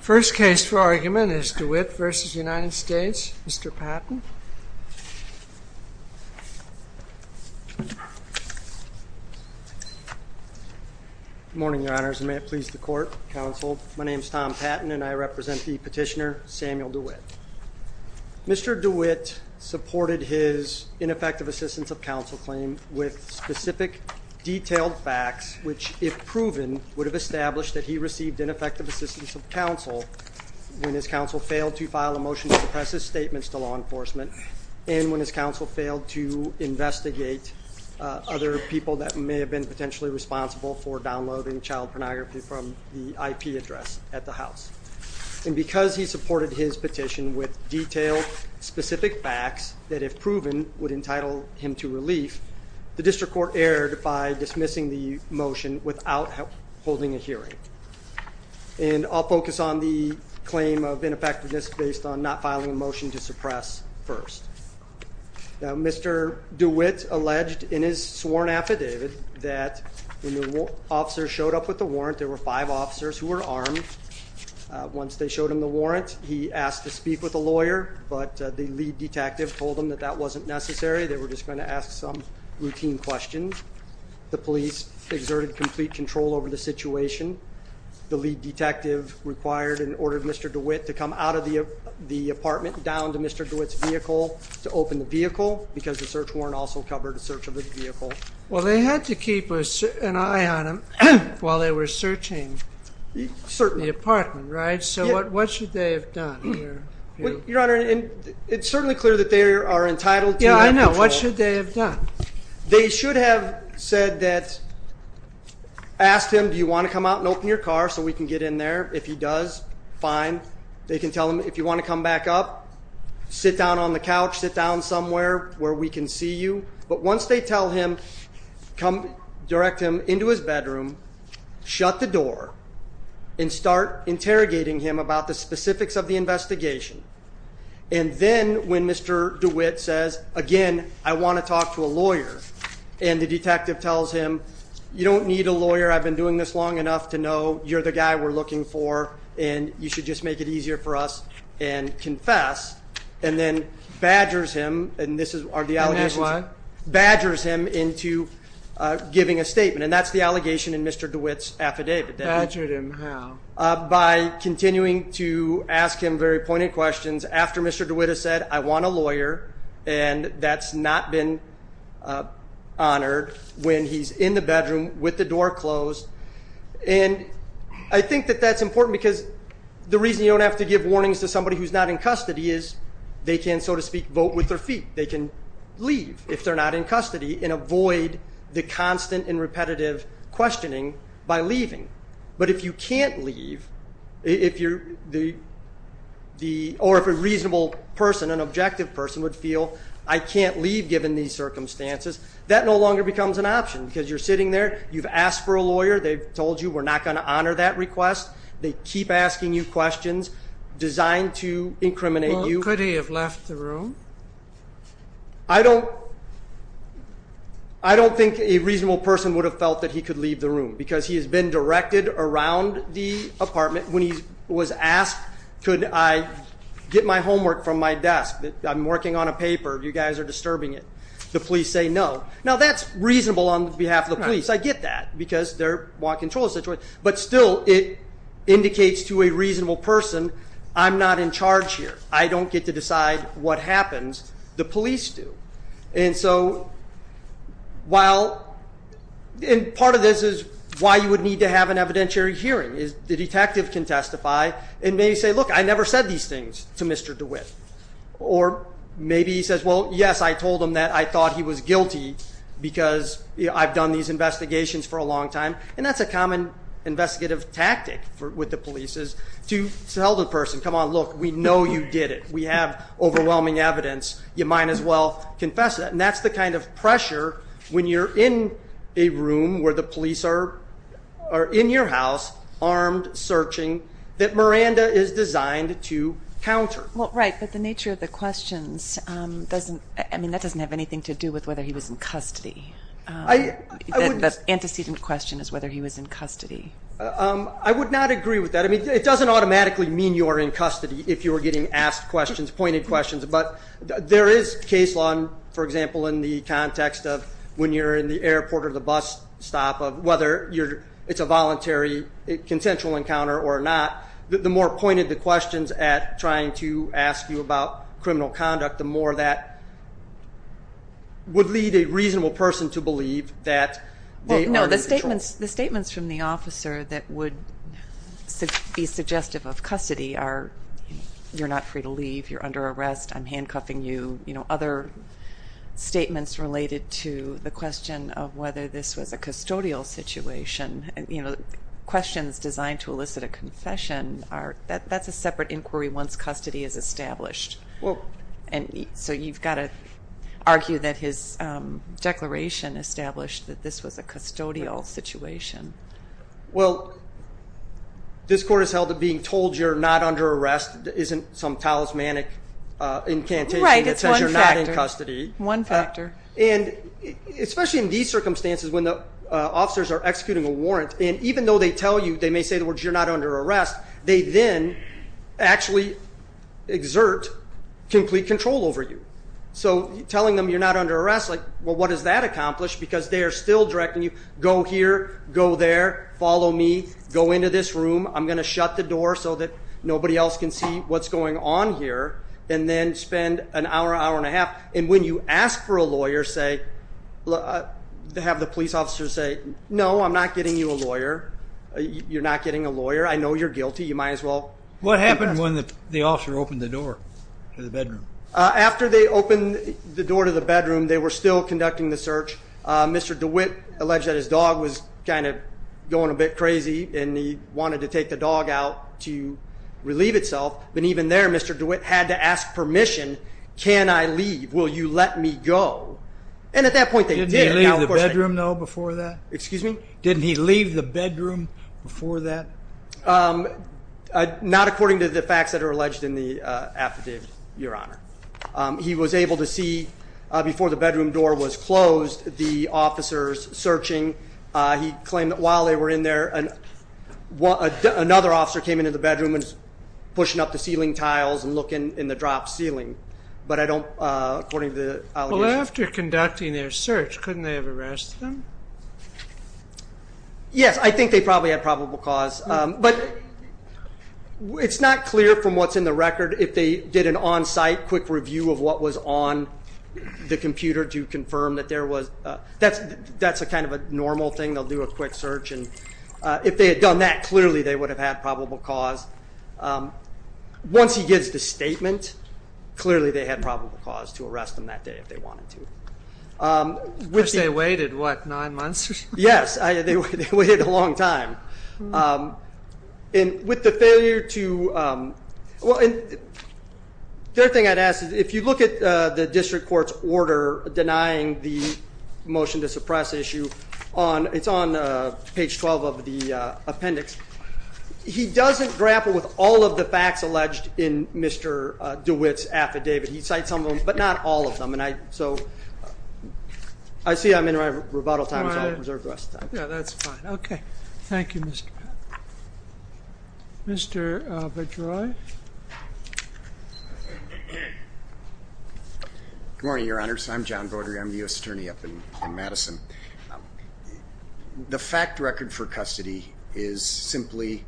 First case for argument is Dewitt v. United States. Mr. Patton. Good morning, Your Honors, and may it please the Court, Counsel. My name is Tom Patton, and I represent the petitioner, Samuel Dewitt. Mr. Dewitt supported his ineffective assistance of counsel claim with specific detailed facts which, if proven, would have established that he received ineffective assistance of counsel when his counsel failed to file a motion to suppress his statements to law enforcement and when his counsel failed to investigate other people that may have been potentially responsible for downloading child pornography from the IP address at the House. And because he supported his petition with detailed, specific facts that, if proven, would entitle him to relief, the District Court erred by dismissing the motion without holding a hearing. And I'll focus on the claim of ineffectiveness based on not filing a motion to suppress first. Mr. Dewitt alleged in his sworn affidavit that when the officers showed up with the warrant, there were five officers who were armed. Once they showed him the warrant, he asked to speak with a lawyer, but the lead detective told him that that wasn't necessary. They were just going to ask some routine questions. The police exerted complete control over the situation. The lead detective required and ordered Mr. Dewitt to come out of the apartment down to Mr. Dewitt's vehicle to open the vehicle because the search warrant also covered a search of the vehicle. Well, they had to keep an eye on him while they were searching the apartment, right? So what should they have done? Your Honor, it's certainly clear that they are entitled to that control. Yeah, I know. What should they have done? They should have said that, asked him, do you want to come out and open your car so we can get in there? If he does, fine. They can tell him if you want to come back up, sit down on the couch, sit down somewhere where we can see you. But once they tell him, come direct him into his bedroom, shut the door and start interrogating him about the specifics of the investigation. And then when Mr. Dewitt says, again, I want to talk to a lawyer and the detective tells him, you don't need a lawyer. I've been doing this long enough to know you're the guy we're looking for and you should just make it easier for us and confess. And then badgers him into giving a statement. And that's the allegation in Mr. Dewitt's affidavit. Badgered him how? By continuing to ask him very pointed questions after Mr. Dewitt has said, I want a lawyer. And that's not been honored when he's in the bedroom with the door closed. And I think that that's important because the reason you don't have to give warnings to somebody who's not in custody is they can, so to speak, vote with their feet. They can leave if they're not in custody and avoid the constant and repetitive questioning by leaving. But if you can't leave, or if a reasonable person, an objective person would feel, I can't leave given these circumstances, that no longer becomes an option. Because you're sitting there. You've asked for a lawyer. They've told you we're not going to honor that request. They keep asking you questions designed to incriminate you. Well, could he have left the room? I don't think a reasonable person would have felt that he could leave the room because he has been directed around the apartment when he was asked, could I get my homework from my desk? I'm working on a paper. You guys are disturbing it. The police say no. Now, that's reasonable on behalf of the police. I get that because they want control of the situation. But still, it indicates to a reasonable person, I'm not in charge here. I don't get to decide what happens. The police do. And so while part of this is why you would need to have an evidentiary hearing is the detective can testify and maybe say, look, I never said these things to Mr. DeWitt. Or maybe he says, well, yes, I told him that I thought he was guilty because I've done these investigations for a long time. And that's a common investigative tactic with the police is to tell the person, come on, look, we know you did it. We have overwhelming evidence. You might as well confess it. And that's the kind of pressure when you're in a room where the police are in your house, armed, searching, that Miranda is designed to counter. Well, right, but the nature of the questions doesn't, I mean, that doesn't have anything to do with whether he was in custody. The antecedent question is whether he was in custody. I would not agree with that. I mean, it doesn't automatically mean you are in custody if you were getting asked questions, pointed questions. But there is case law, for example, in the context of when you're in the airport or the bus stop, of whether it's a voluntary consensual encounter or not, the more pointed the questions at trying to ask you about criminal conduct, the more that would lead a reasonable person to believe that they are in control. Well, no, the statements from the officer that would be suggestive of custody are you're not free to leave, you're under arrest, I'm handcuffing you, other statements related to the question of whether this was a custodial situation. Questions designed to elicit a confession, that's a separate inquiry once custody is established. And so you've got to argue that his declaration established that this was a custodial situation. Well, this court has held that being told you're not under arrest isn't some talismanic incantation that says you're not in custody. Right, it's one factor, one factor. And especially in these circumstances when the officers are executing a warrant, and even though they tell you, they may say the words you're not under arrest, they then actually exert complete control over you. So telling them you're not under arrest, like, well, what does that accomplish? Because they are still directing you, go here, go there, follow me, go into this room, I'm going to shut the door so that nobody else can see what's going on here, and then spend an hour, hour and a half. And when you ask for a lawyer, have the police officer say, no, I'm not getting you a lawyer, you're not getting a lawyer, I know you're guilty, you might as well. What happened when the officer opened the door to the bedroom? After they opened the door to the bedroom, they were still conducting the search. Mr. DeWitt alleged that his dog was kind of going a bit crazy, and he wanted to take the dog out to relieve itself. But even there, Mr. DeWitt had to ask permission. Can I leave? Will you let me go? And at that point, they did. Didn't he leave the bedroom, though, before that? Excuse me? Didn't he leave the bedroom before that? Not according to the facts that are alleged in the affidavit, Your Honor. He was able to see, before the bedroom door was closed, the officers searching. He claimed that while they were in there, another officer came into the bedroom and was pushing up the ceiling tiles and looking in the dropped ceiling. But I don't, according to the allegation. Well, after conducting their search, couldn't they have arrested them? Yes. I think they probably had probable cause. But it's not clear from what's in the record if they did an on-site quick review of what was on the computer to confirm that there was. That's kind of a normal thing. They'll do a quick search. And if they had done that, clearly they would have had probable cause. Once he gives the statement, clearly they had probable cause to arrest them that day if they wanted to. Because they waited, what, nine months? Yes. They waited a long time. With the failure to, well, the other thing I'd ask is if you look at the district court's order denying the motion to suppress issue, it's on page 12 of the appendix. He doesn't grapple with all of the facts alleged in Mr. DeWitt's affidavit. He cites some of them, but not all of them. So I see I'm in my rebuttal time, so I'll reserve the rest of the time. Yeah, that's fine. Okay. Thank you, Mr. Pat. Mr. Bedroy? Good morning, Your Honors. I'm John Bodery. I'm the U.S. Attorney up in Madison. The fact record for custody is simply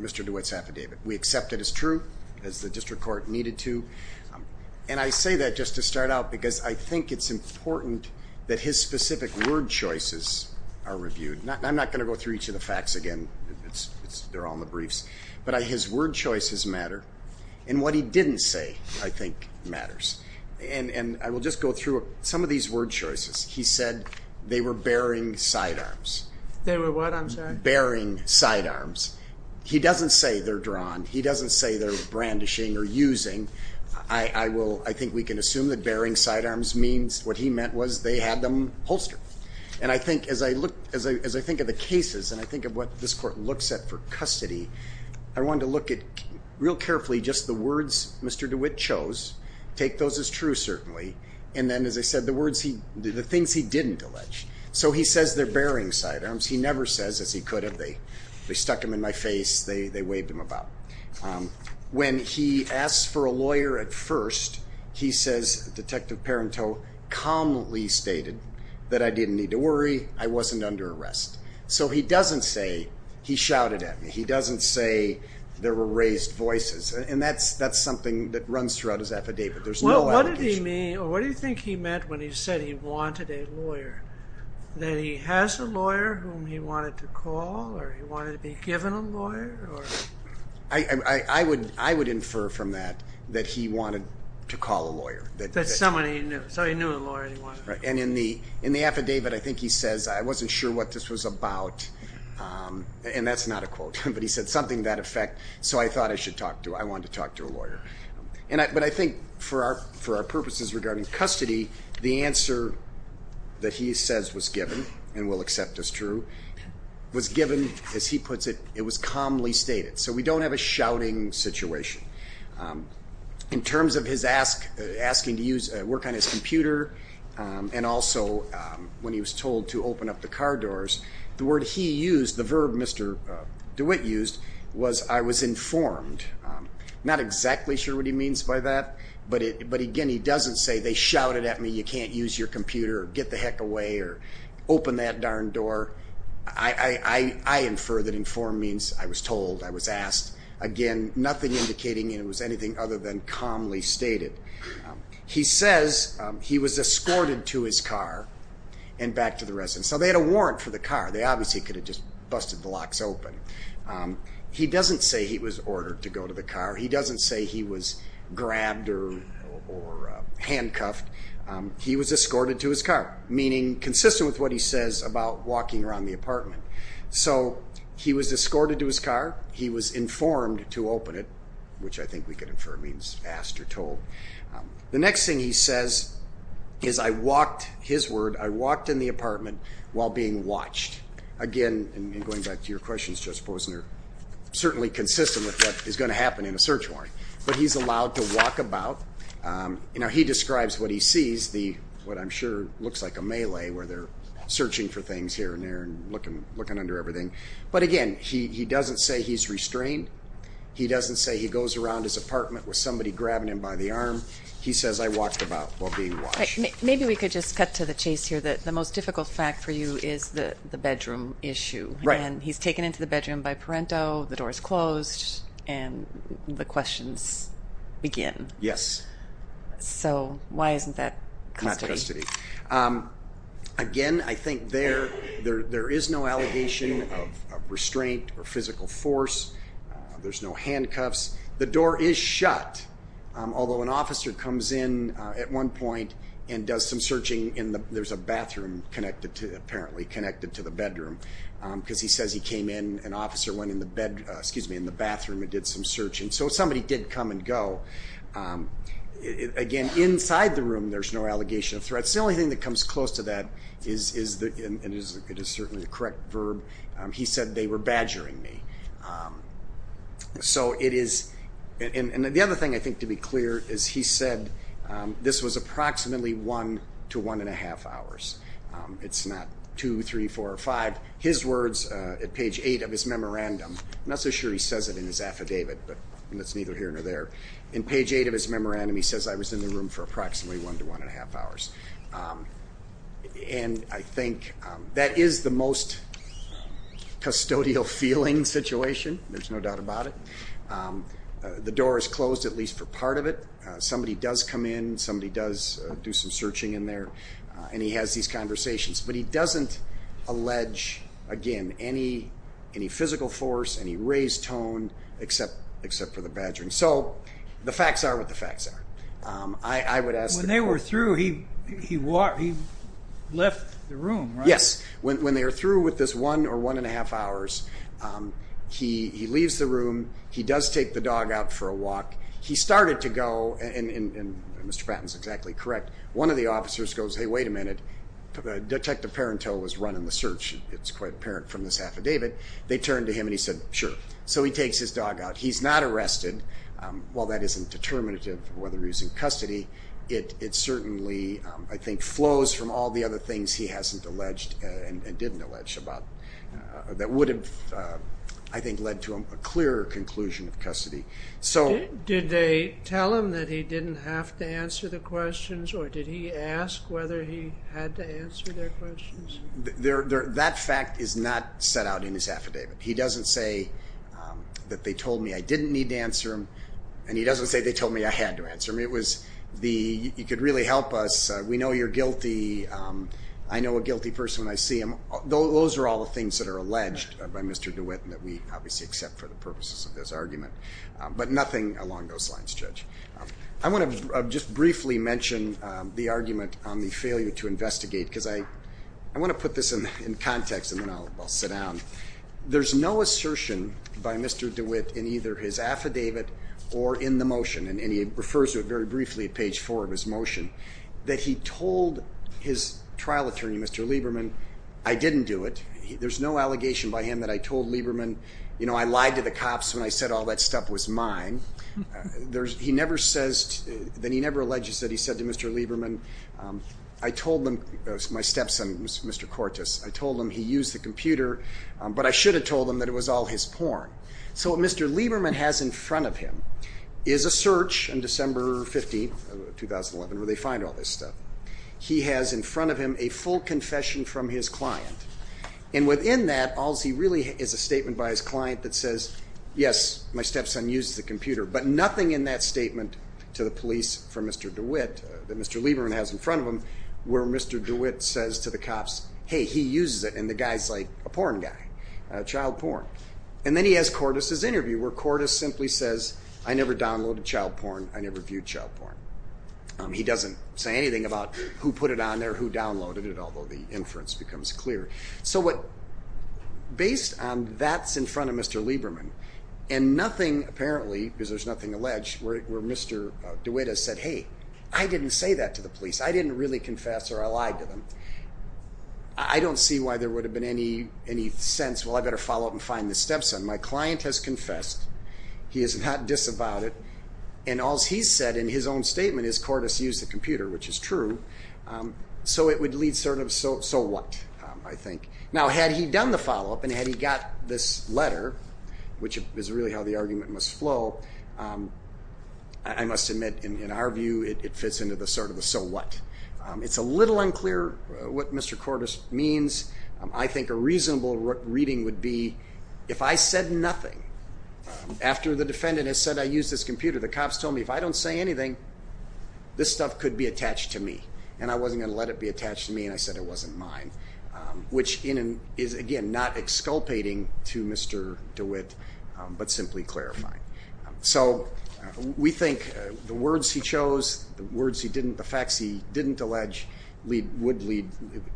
Mr. DeWitt's affidavit. We accept it as true, as the district court needed to. And I say that just to start out because I think it's important that his specific word choices are reviewed. I'm not going to go through each of the facts again. They're all in the briefs. But his word choices matter, and what he didn't say, I think, matters. And I will just go through some of these word choices. He said they were bearing sidearms. They were what, I'm sorry? Bearing sidearms. He doesn't say they're drawn. He doesn't say they're brandishing or using. I think we can assume that bearing sidearms means what he meant was they had them holstered. And I think as I think of the cases and I think of what this court looks at for custody, I wanted to look at real carefully just the words Mr. DeWitt chose, take those as true certainly, and then, as I said, the things he didn't allege. So he says they're bearing sidearms. He never says, as he could have, they stuck them in my face, they waved them about. When he asks for a lawyer at first, he says, Detective Parenteau calmly stated that I didn't need to worry, I wasn't under arrest. So he doesn't say he shouted at me. He doesn't say there were raised voices. And that's something that runs throughout his affidavit. There's no allegation. What did he mean or what do you think he meant when he said he wanted a lawyer? That he has a lawyer whom he wanted to call or he wanted to be given a lawyer? I would infer from that that he wanted to call a lawyer. That's someone he knew. So he knew a lawyer that he wanted to call. And in the affidavit, I think he says, I wasn't sure what this was about. And that's not a quote. But he said something to that effect. But I think for our purposes regarding custody, the answer that he says was given, and will accept as true, was given, as he puts it, it was calmly stated. So we don't have a shouting situation. In terms of his asking to work on his computer, and also when he was told to open up the car doors, the word he used, the verb Mr. DeWitt used, was I was informed. I'm not exactly sure what he means by that. But, again, he doesn't say they shouted at me, you can't use your computer, get the heck away, or open that darn door. I infer that informed means I was told, I was asked. Again, nothing indicating it was anything other than calmly stated. He says he was escorted to his car and back to the residence. So they had a warrant for the car. They obviously could have just busted the locks open. He doesn't say he was ordered to go to the car. He doesn't say he was grabbed or handcuffed. He was escorted to his car, meaning consistent with what he says about walking around the apartment. So he was escorted to his car. He was informed to open it, which I think we could infer means asked or told. The next thing he says is I walked, his word, I walked in the apartment while being watched. Again, and going back to your questions, Judge Posner, certainly consistent with what is going to happen in a search warrant. But he's allowed to walk about. He describes what he sees, what I'm sure looks like a melee where they're searching for things here and there and looking under everything. But, again, he doesn't say he's restrained. He doesn't say he goes around his apartment with somebody grabbing him by the arm. He says I walked about while being watched. Maybe we could just cut to the chase here. The most difficult fact for you is the bedroom issue. Right. And he's taken into the bedroom by parento, the door is closed, and the questions begin. Yes. So why isn't that custody? Not custody. Again, I think there is no allegation of restraint or physical force. There's no handcuffs. There's a bathroom, apparently, connected to the bedroom. Because he says he came in, an officer went in the bathroom and did some searching. So somebody did come and go. Again, inside the room there's no allegation of threat. The only thing that comes close to that, and it is certainly the correct verb, he said they were badgering me. So it is, and the other thing I think to be clear is he said this was approximately one to one and a half hours. It's not two, three, four, or five. His words at page eight of his memorandum, I'm not so sure he says it in his affidavit, but that's neither here nor there. In page eight of his memorandum he says I was in the room for approximately one to one and a half hours. And I think that is the most custodial feeling situation. There's no doubt about it. The door is closed, at least for part of it. Somebody does come in. Somebody does do some searching in there. And he has these conversations. But he doesn't allege, again, any physical force, any raised tone, except for the badgering. So the facts are what the facts are. When they were through, he left the room, right? Yes. When they are through with this one or one and a half hours, he leaves the room. He does take the dog out for a walk. He started to go, and Mr. Patton is exactly correct. One of the officers goes, hey, wait a minute. Detective Parenteau was running the search, it's quite apparent from this affidavit. They turned to him and he said, sure. So he takes his dog out. He's not arrested. While that isn't determinative of whether he's in custody, it certainly, I think, flows from all the other things he hasn't alleged and didn't allege about that would have, I think, led to a clearer conclusion of custody. Did they tell him that he didn't have to answer the questions, or did he ask whether he had to answer their questions? That fact is not set out in his affidavit. He doesn't say that they told me I didn't need to answer them, and he doesn't say they told me I had to answer them. It was the, you could really help us. We know you're guilty. I know a guilty person when I see them. Those are all the things that are alleged by Mr. DeWitt and that we obviously accept for the purposes of this argument, but nothing along those lines, Judge. I want to just briefly mention the argument on the failure to investigate, because I want to put this in context and then I'll sit down. There's no assertion by Mr. DeWitt in either his affidavit or in the motion, and he refers to it very briefly at page four of his motion, that he told his trial attorney, Mr. Lieberman, I didn't do it. There's no allegation by him that I told Lieberman, you know, I lied to the cops when I said all that stuff was mine. He never says, then he never alleges that he said to Mr. Lieberman, I told them, my stepson, Mr. Cortis, I told them he used the computer, but I should have told them that it was all his porn. So what Mr. Lieberman has in front of him is a search on December 15, 2011, where they find all this stuff. He has in front of him a full confession from his client, and within that all he really has is a statement by his client that says, yes, my stepson used the computer, but nothing in that statement to the police from Mr. DeWitt that Mr. Lieberman has in front of him where Mr. DeWitt says to the cops, hey, he uses it, and the guy's like a porn guy, child porn. And then he has Cortis' interview where Cortis simply says, I never downloaded child porn, I never viewed child porn. He doesn't say anything about who put it on there, who downloaded it, although the inference becomes clear. So what, based on that's in front of Mr. Lieberman, and nothing apparently, because there's nothing alleged, where Mr. DeWitt has said, hey, I didn't say that to the police, I didn't really confess or I lied to them. I don't see why there would have been any sense, well, I better follow up and find this stepson. My client has confessed, he has not disavowed it, and all he's said in his own statement is Cortis used the computer, which is true. So it would lead sort of so what, I think. Now, had he done the follow-up and had he got this letter, which is really how the argument must flow, I must admit in our view it fits into the sort of the so what. It's a little unclear what Mr. Cortis means. I think a reasonable reading would be if I said nothing, after the defendant has said I used this computer, the cops told me if I don't say anything, this stuff could be attached to me, and I wasn't going to let it be attached to me, and I said it wasn't mine, which is, again, not exculpating to Mr. DeWitt, but simply clarifying. So we think the words he chose, the words he didn't, the facts he didn't allege would lead,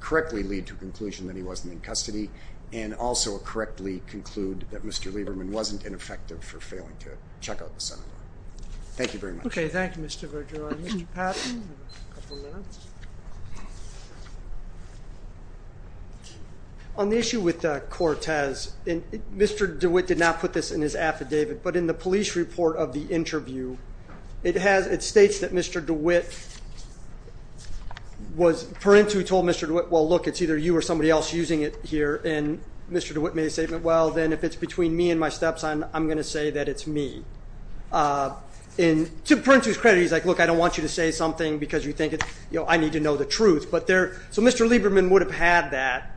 correctly lead to a conclusion that he wasn't in custody, and also correctly conclude that Mr. Lieberman wasn't ineffective for failing to check out the senator. Thank you very much. Okay, thank you, Mr. Vergara. Mr. Patton, you have a couple minutes. On the issue with Cortis, Mr. DeWitt did not put this in his affidavit, but in the police report of the interview, it states that Mr. DeWitt was, Perintu told Mr. DeWitt, well, look, it's either you or somebody else using it here, and Mr. DeWitt made a statement, well, then if it's between me and my stepson, I'm going to say that it's me. To Perintu's credit, he's like, look, I don't want you to say something because you think I need to know the truth. So Mr. Lieberman would have had that,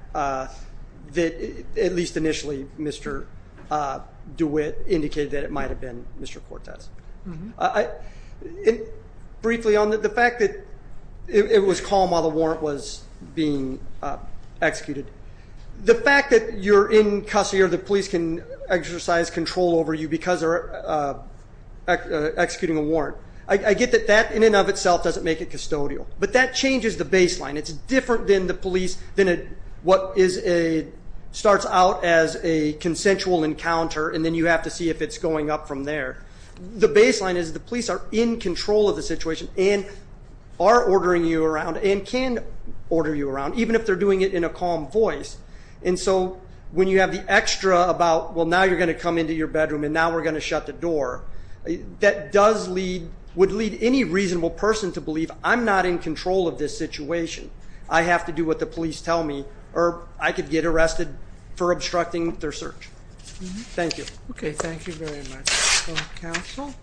at least initially, Mr. DeWitt indicated that it might have been Mr. Cortis. Briefly, on the fact that it was calm while the warrant was being executed, the fact that you're in custody or the police can exercise control over you because they're executing a warrant, I get that that in and of itself doesn't make it custodial, but that changes the baseline. It's different than the police, than what starts out as a consensual encounter, and then you have to see if it's going up from there. The baseline is the police are in control of the situation and are ordering you around and can order you around, even if they're doing it in a calm voice. And so when you have the extra about, well, now you're going to come into your bedroom and now we're going to shut the door, that would lead any reasonable person to believe, I'm not in control of this situation, I have to do what the police tell me, or I could get arrested for obstructing their search. Thank you. Okay, thank you very much, counsel.